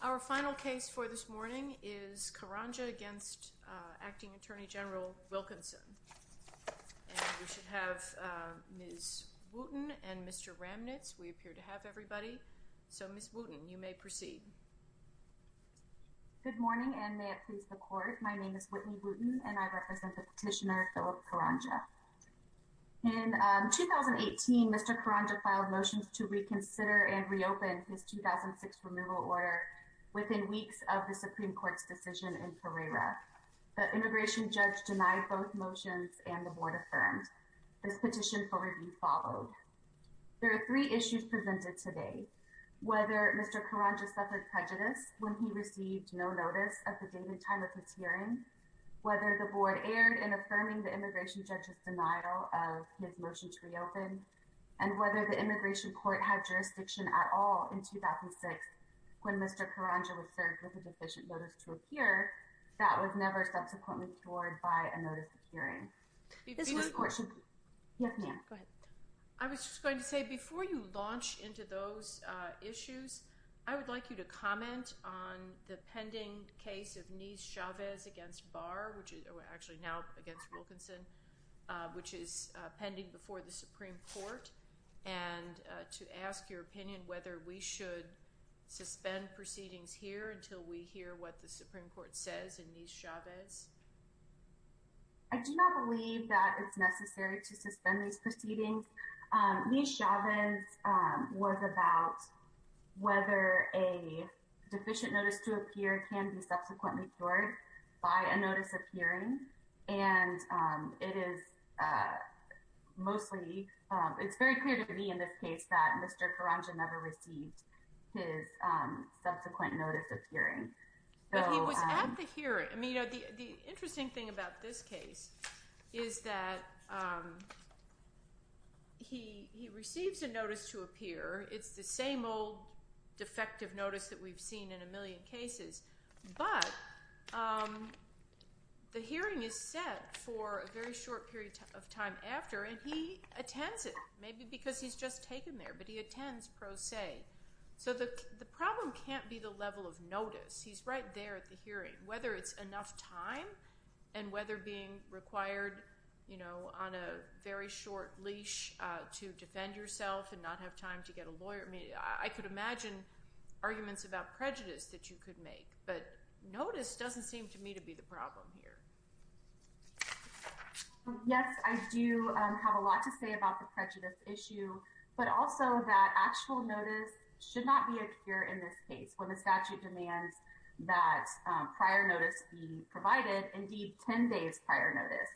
Our final case for this morning is Karanja against Acting Attorney General Wilkinson. And we should have Ms. Wooten and Mr. Ramnitz. We appear to have everybody. So, Ms. Wooten, you may proceed. Good morning, and may it please the Court. My name is Whitney Wooten, and I represent the petitioner, Philip Karanja. In 2018, Mr. Karanja filed motions to reconsider and reopen his 2006 removal order within weeks of the Supreme Court's decision in Pereira. The immigration judge denied both motions, and the Board affirmed. This petition for review followed. There are three issues presented today. Whether Mr. Karanja suffered prejudice when he received no notice at the date and time of his hearing. Whether the Board erred in affirming the immigration judge's denial of his motion to reopen. And whether the immigration court had jurisdiction at all in 2006, when Mr. Karanja was served with a deficient notice to appear. That was never subsequently cured by a notice of hearing. I was just going to say, before you launch into those issues, I would like you to comment on the pending case of Nice-Chavez against Barr, which is actually now against Wilkinson, which is pending before the Supreme Court, and to ask your opinion whether we should suspend proceedings here until we hear what the Supreme Court says in Nice-Chavez. I do not believe that it's necessary to suspend these proceedings. Nice-Chavez was about whether a deficient notice to appear can be subsequently cured by a notice of hearing. And it is mostly, it's very clear to me in this case that Mr. Karanja never received his subsequent notice of hearing. But he was at the hearing. I mean, the interesting thing about this case is that he receives a notice to appear. It's the same old defective notice that we've seen in a million cases. But the hearing is set for a very short period of time after, and he attends it. Maybe because he's just taken there, but he attends pro se. So the problem can't be the level of notice. He's right there at the hearing, whether it's enough time and whether being required, you know, on a very short leash to defend yourself and not have time to get a lawyer. I mean, I could imagine arguments about prejudice that you could make, but notice doesn't seem to me to be the problem here. Yes, I do have a lot to say about the prejudice issue, but also that actual notice should not be a cure in this case. When the statute demands that prior notice be provided, indeed 10 days prior notice.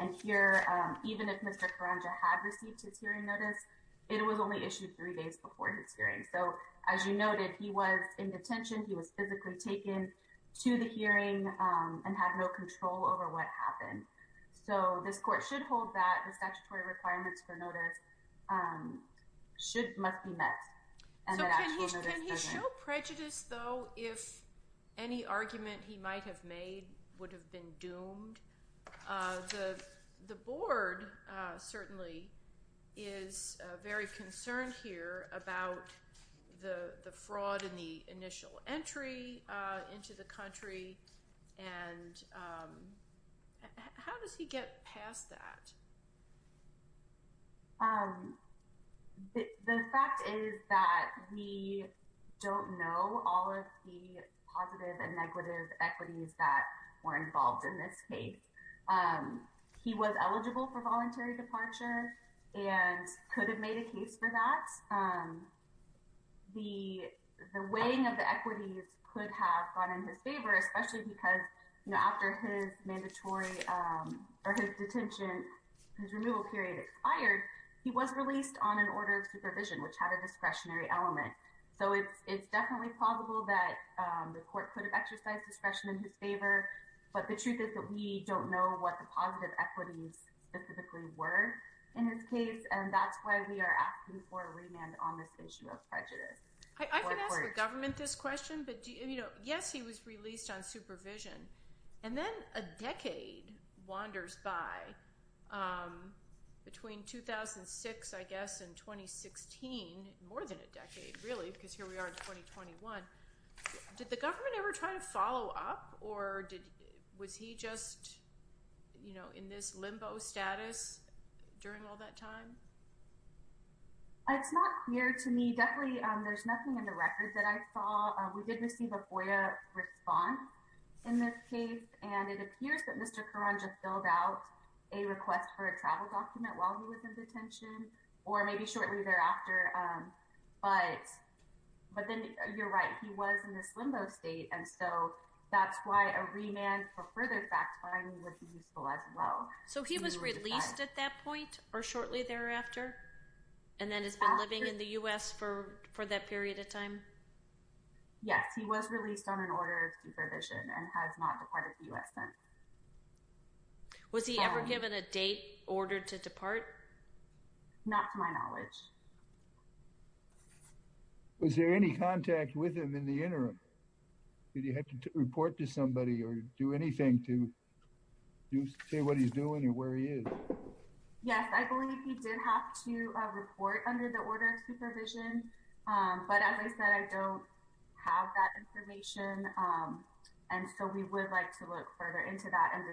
And here, even if Mr. Karanja had received his hearing notice, it was only issued three days before his hearing. So as you noted, he was in detention. He was physically taken to the hearing and had no control over what happened. So this court should hold that the statutory requirements for notice must be met. So can he show prejudice, though, if any argument he might have made would have been doomed? The board certainly is very concerned here about the fraud in the initial entry into the country. And how does he get past that? The fact is that we don't know all of the positive and negative equities that were involved in this case. He was eligible for voluntary departure and could have made a case for that. The weighing of the equities could have gone in his favor, especially because after his mandatory or his detention, his removal period expired. He was released on an order of supervision, which had a discretionary element. So it's definitely plausible that the court could have exercised discretion in his favor. But the truth is that we don't know what the positive equities specifically were in his case. And that's why we are asking for a remand on this issue of prejudice. I can ask the government this question. But, you know, yes, he was released on supervision. And then a decade wanders by between 2006, I guess, and 2016, more than a decade, really, because here we are in 2021. Did the government ever try to follow up? Or was he just, you know, in this limbo status during all that time? It's not clear to me. Definitely, there's nothing in the records that I saw. We did receive a FOIA response in this case. And it appears that Mr. Curran just filled out a request for a travel document while he was in detention or maybe shortly thereafter. But then you're right. He was in this limbo state. And so that's why a remand for further fact-finding would be useful as well. So he was released at that point or shortly thereafter and then has been living in the U.S. for that period of time? Yes, he was released on an order of supervision and has not departed the U.S. since. Was he ever given a date ordered to depart? Not to my knowledge. Was there any contact with him in the interim? Did he have to report to somebody or do anything to say what he's doing or where he is? Yes, I believe he did have to report under the order of supervision. But as I said, I don't have that information. And so we would like to look further into that and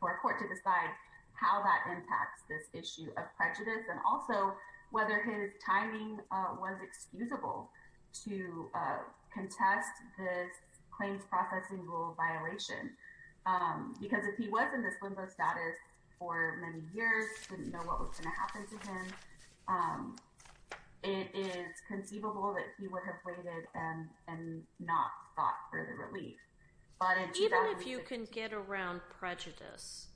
for a court to decide how that impacts this issue of prejudice. And also whether his timing was excusable to contest this claims processing rule violation. Because if he was in this limbo status for many years, didn't know what was going to happen to him, it is conceivable that he would have waited and not sought further relief. Even if you can get around prejudice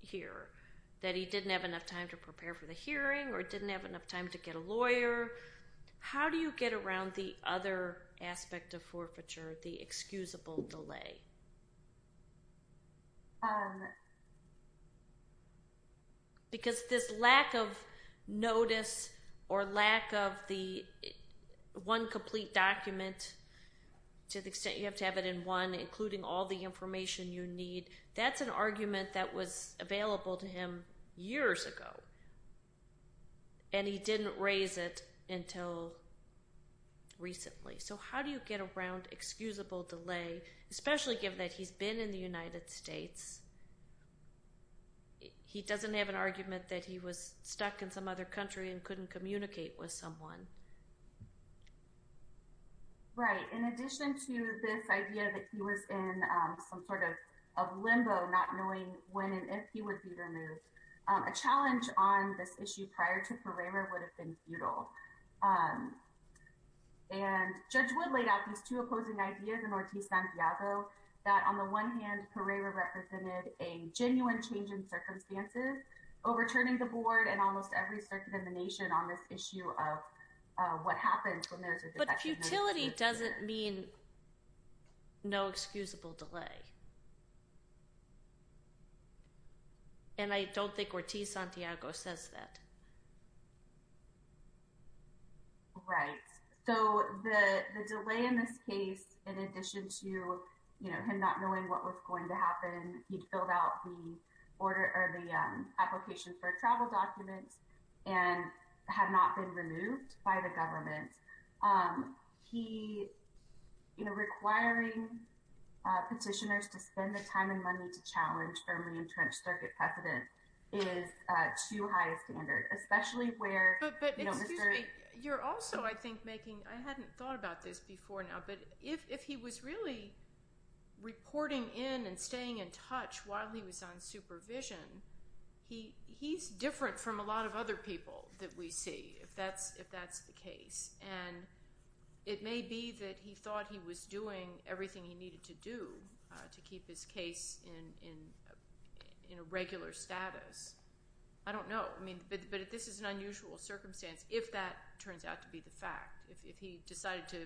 here, that he didn't have enough time to prepare for the hearing or didn't have enough time to get a lawyer, how do you get around the other aspect of forfeiture, the excusable delay? Because this lack of notice or lack of the one complete document, to the extent you have to have it in one, including all the information you need, that's an argument that was available to him years ago. And he didn't raise it until recently. So how do you get around excusable delay, especially given that he's been in the United States? He doesn't have an argument that he was stuck in some other country and couldn't communicate with someone. Right. In addition to this idea that he was in some sort of limbo, not knowing when and if he would be removed, a challenge on this issue prior to FORAMER would have been futile. And Judge Wood laid out these two opposing ideas in Ortiz-Santiago that, on the one hand, Pereira represented a genuine change in circumstances, overturning the board and almost every circuit in the nation on this issue of what happens when there's a defective document. But futility doesn't mean no excusable delay. And I don't think Ortiz-Santiago says that. Right. So the delay in this case, in addition to him not knowing what was going to happen, he filled out the application for travel documents and had not been removed by the government. Requiring petitioners to spend the time and money to challenge firmly entrenched circuit precedent is too high a standard, especially where, you know, Mr. But excuse me, you're also, I think, making, I hadn't thought about this before now, but if he was really reporting in and staying in touch while he was on supervision, he's different from a lot of other people that we see, if that's the case. And it may be that he thought he was doing everything he needed to do to keep his case in a regular status. I don't know. I mean, but this is an unusual circumstance if that turns out to be the fact. If he decided to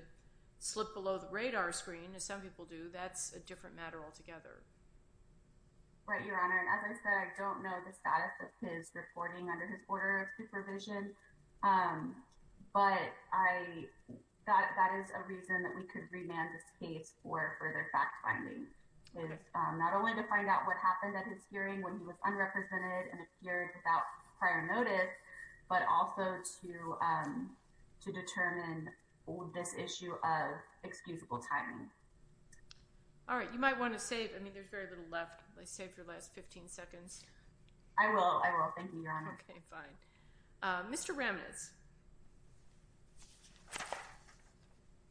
slip below the radar screen, as some people do, that's a different matter altogether. Right, Your Honor. And as I said, I don't know the status of his reporting under his order of supervision. But I thought that is a reason that we could remand this case for further fact finding. Not only to find out what happened at his hearing when he was unrepresented and appeared without prior notice, but also to to determine this issue of excusable timing. All right. You might want to save. I mean, there's very little left. Let's save your last 15 seconds. I will. I will. Thank you, Your Honor. OK, fine. Mr. Ramnitz.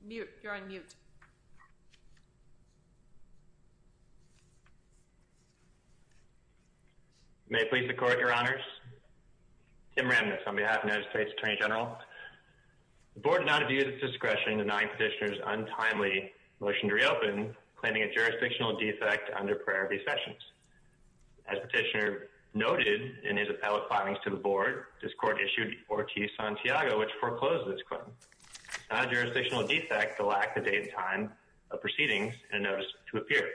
You're on mute. May I please record, Your Honors? Tim Ramnitz on behalf of the United States Attorney General. The Board did not view this discretion in denying Petitioner's untimely motion to reopen, claiming a jurisdictional defect under prior recessions. As Petitioner noted in his appellate filings to the Board, this Court issued Ortiz-Santiago, which foreclosed this claim. Not a jurisdictional defect, the lack of date and time of proceedings and notice to appear.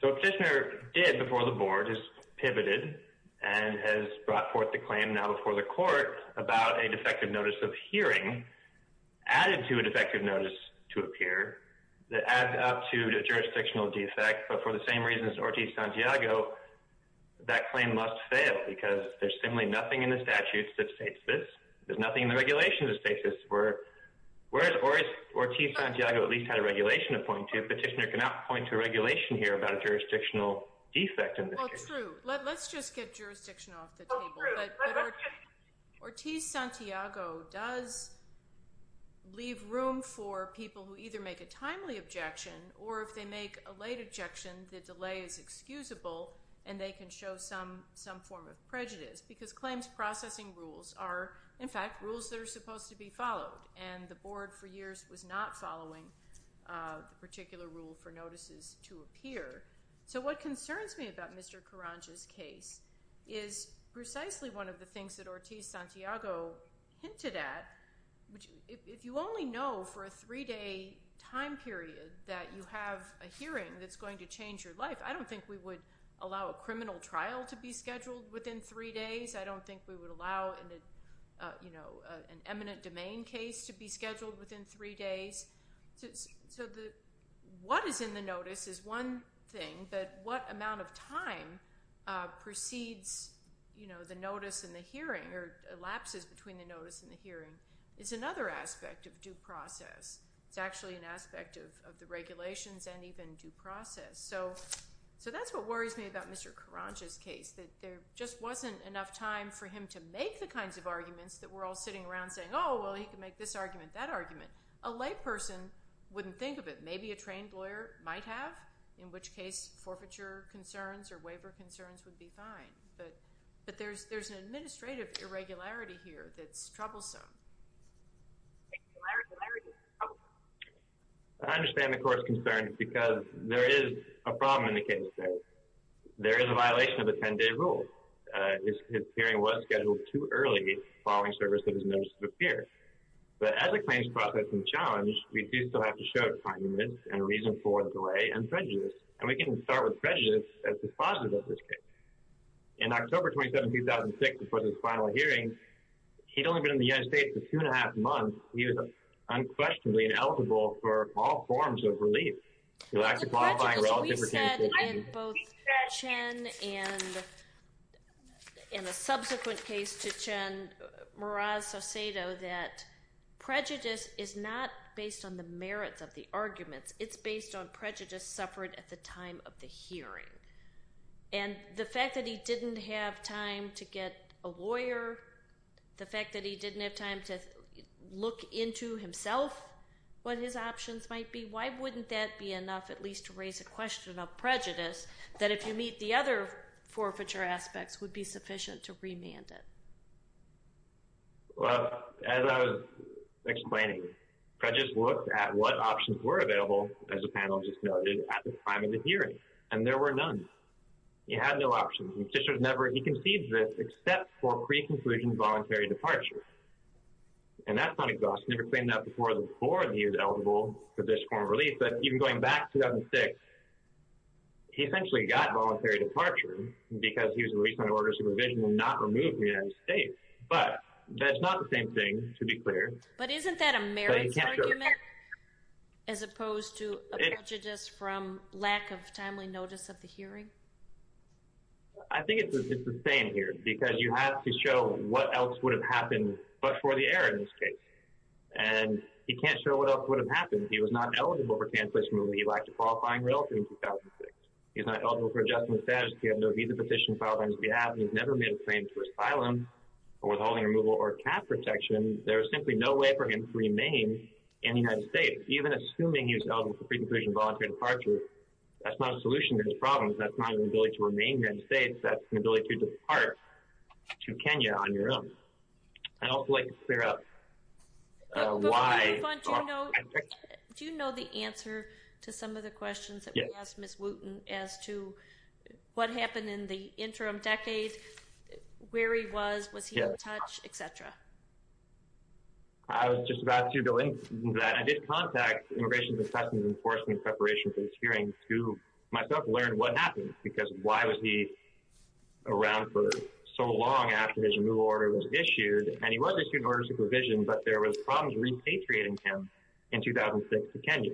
So what Petitioner did before the Board is pivoted and has brought forth the claim now before the Court about a defective notice of hearing added to a defective notice to appear that adds up to a jurisdictional defect. But for the same reasons Ortiz-Santiago, that claim must fail because there's simply nothing in the statutes that states this. There's nothing in the regulations that states this. Whereas Ortiz-Santiago at least had a regulation to point to, Petitioner cannot point to a regulation here about a jurisdictional defect in this case. Well, true. Let's just get jurisdiction off the table. But Ortiz-Santiago does leave room for people who either make a timely objection or if they make a late objection, the delay is excusable and they can show some form of prejudice because claims processing rules are, in fact, rules that are supposed to be followed. And the Board for years was not following the particular rule for notices to appear. So what concerns me about Mr. Karanja's case is precisely one of the things that Ortiz-Santiago hinted at. If you only know for a three-day time period that you have a hearing that's going to change your life, I don't think we would allow a criminal trial to be scheduled within three days. I don't think we would allow an eminent domain case to be scheduled within three days. So what is in the notice is one thing, but what amount of time precedes the notice and the hearing or elapses between the notice and the hearing is another aspect of due process. It's actually an aspect of the regulations and even due process. So that's what worries me about Mr. Karanja's case, that there just wasn't enough time for him to make the kinds of arguments that we're all sitting around saying, oh, well, he can make this argument, that argument. A layperson wouldn't think of it. Maybe a trained lawyer might have, in which case forfeiture concerns or waiver concerns would be fine. But there's an administrative irregularity here that's troublesome. Irregularity. I understand the court's concern because there is a problem in the case there. There is a violation of the 10-day rule. His hearing was scheduled too early following service of his notice of appearance. But as a claims process and challenge, we do still have to show time limits and reason for delay and prejudice. And we can start with prejudice as the positive of this case. In October 27, 2006, before this final hearing, he'd only been in the United States for two and a half months. He was unquestionably ineligible for all forms of relief. We said in both Chen and in a subsequent case to Chen, Mraz-Soseto, that prejudice is not based on the merits of the arguments. It's based on prejudice suffered at the time of the hearing. And the fact that he didn't have time to get a lawyer, the fact that he didn't have time to look into himself what his options might be, why wouldn't that be enough at least to raise a question of prejudice that if you meet the other forfeiture aspects would be sufficient to remand it? Well, as I was explaining, prejudice looked at what options were available, as the panel just noted, at the time of the hearing. And there were none. He had no options. He conceded this except for preconclusion voluntary departure. And that's not exhaustive. We've never claimed that before, that he was eligible for this form of relief. But even going back to 2006, he essentially got voluntary departure because he was released on order of supervision and not removed from the United States. But that's not the same thing, to be clear. But isn't that a merits argument as opposed to a prejudice from lack of timely notice of the hearing? I think it's the same here because you have to show what else would have happened but for the error in this case. And you can't show what else would have happened. He was not eligible for cancellation of relief. He lacked a qualifying relative in 2006. He's not eligible for adjustment status. He had no visa petition filed on his behalf. He's never made a claim for asylum or withholding removal or cap protection. There is simply no way for him to remain in the United States. Even assuming he was eligible for preconclusion voluntary departure, that's not a solution to his problems. That's not an ability to remain here in the States. That's an ability to depart to Kenya on your own. I'd also like to clear up why— But before we move on, do you know the answer to some of the questions that we asked Ms. Wooten as to what happened in the interim decade, where he was, was he in touch, et cetera? I was just about to go into that. I did contact Immigration and Testimony Enforcement in preparation for this hearing to myself learn what happened because why was he around for so long after his removal order was issued? And he was issued an order of supervision, but there was problems repatriating him in 2006 to Kenya.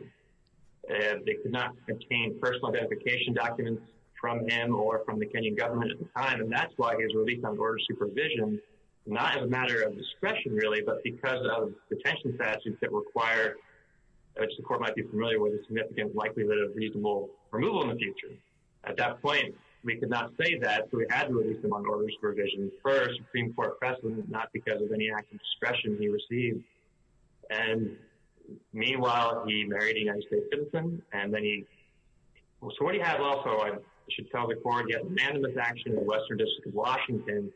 They could not obtain personal identification documents from him or from the Kenyan government at the time, and that's why he was released on order of supervision, not as a matter of discretion, really, but because of detention statutes that require, which the court might be familiar with, a significant likelihood of reasonable removal in the future. At that point, we could not say that, so we had to release him on order of supervision first, Supreme Court precedent, not because of any act of discretion he received. And meanwhile, he married a United States citizen, and then he, so what he had also, I should tell the court, he had an anonymous action in the Western District of Washington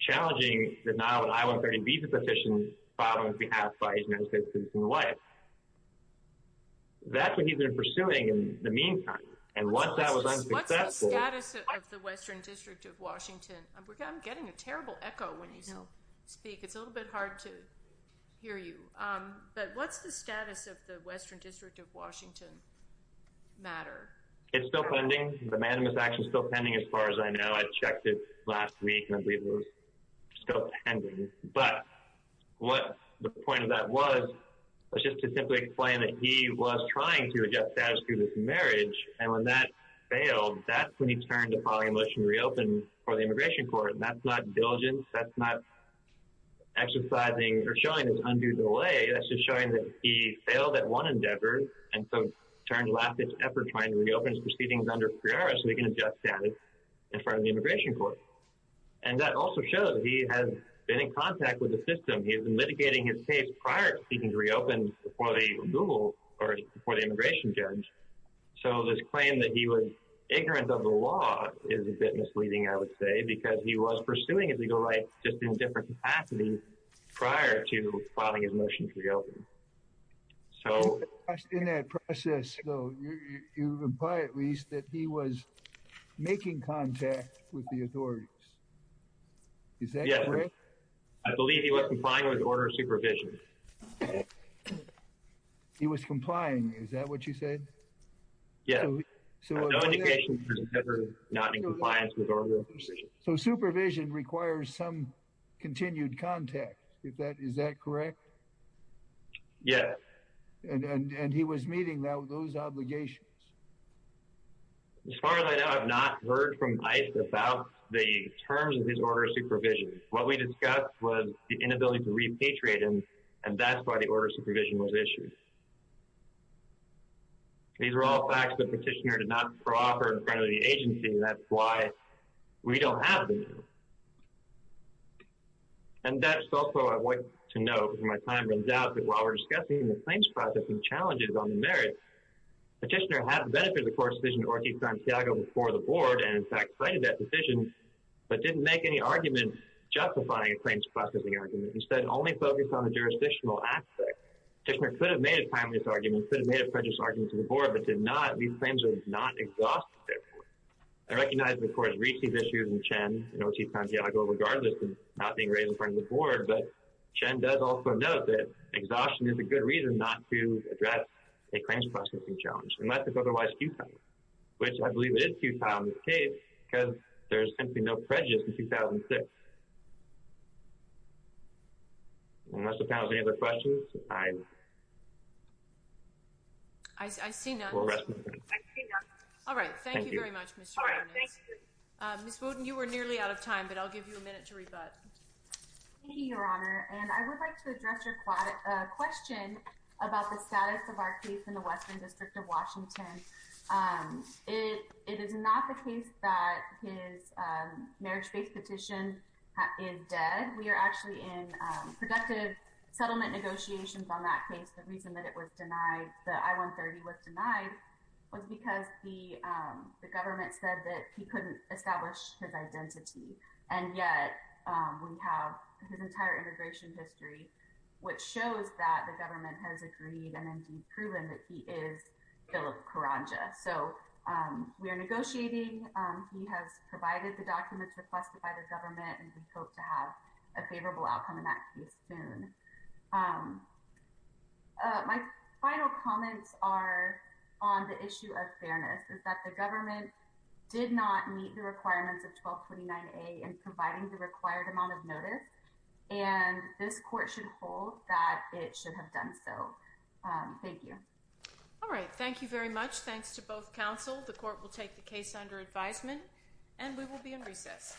challenging the Nile and I-130 visa petition filed on behalf by his United States citizen wife. That's what he's been pursuing in the meantime. What's the status of the Western District of Washington? I'm getting a terrible echo when you speak. It's a little bit hard to hear you. But what's the status of the Western District of Washington matter? It's still pending. The anonymous action is still pending as far as I know. I checked it last week, and I believe it was still pending. But what the point of that was, was just to simply explain that he was trying to adjust status through this marriage. And when that failed, that's when he turned to filing a motion to reopen for the Immigration Court. And that's not diligence. That's not exercising or showing his undue delay. That's just showing that he failed at one endeavor. And so turned to last-ditch effort trying to reopen his proceedings under PRIARA so he can adjust status in front of the Immigration Court. And that also shows he has been in contact with the system. He has been litigating his case prior to seeking to reopen for the Immigration Judge. So this claim that he was ignorant of the law is a bit misleading, I would say, because he was pursuing a legal right just in a different capacity prior to filing his motion to reopen. In that process, though, you reply at least that he was making contact with the authorities. Is that correct? Yes, sir. I believe he was complying with order of supervision. He was complying. He was complying. Is that what you said? Yes. I have no indication that he was ever not in compliance with order of supervision. So supervision requires some continued contact. Is that correct? Yes. And he was meeting those obligations? As far as I know, I have not heard from ICE about the terms of his order of supervision. What we discussed was the inability to repatriate him, and that's why the order of supervision was issued. These are all facts that Petitioner did not offer in front of the agency, and that's why we don't have them. And that's also what I want to note, because my time runs out, that while we're discussing the claims processing challenges on the merits, Petitioner had benefited the court's decision to order Santiago before the board, and in fact, cited that decision, but didn't make any argument justifying a claims processing argument. Instead, only focused on the jurisdictional aspect. Petitioner could have made a timeless argument, could have made a prejudice argument to the board, but did not. These claims are not exhaustive. I recognize the court has reached these issues in Chen and O.T. Santiago regardless of not being raised in front of the board, but Chen does also note that exhaustion is a good reason not to address a claims processing challenge, unless it's otherwise futile, which I believe it is futile in this case, because there's simply no prejudice in 2006. Unless the panel has any other questions, I. I see none. All right. Thank you very much, Mr. Ms. Wooden, you were nearly out of time, but I'll give you a minute to rebut. Thank you, Your Honor, and I would like to address your question about the status of our case in the Western District of Washington. It is not the case that his marriage based petition, is dead. We are actually in productive settlement negotiations on that case. The reason that it was denied, the I-130 was denied was because the government said that he couldn't establish his identity. And yet we have his entire integration history, which shows that the government has agreed and indeed proven that he is Philip Karanja. So we are negotiating. He has provided the documents requested by the government. And we hope to have a favorable outcome in that case soon. My final comments are on the issue of fairness is that the government did not meet the requirements of 1229 a and providing the required amount of notice. And this court should hold that it should have done. So thank you. All right. Thank you very much. Thanks to both counsel. The court will take the case under advisement and we will be in recess.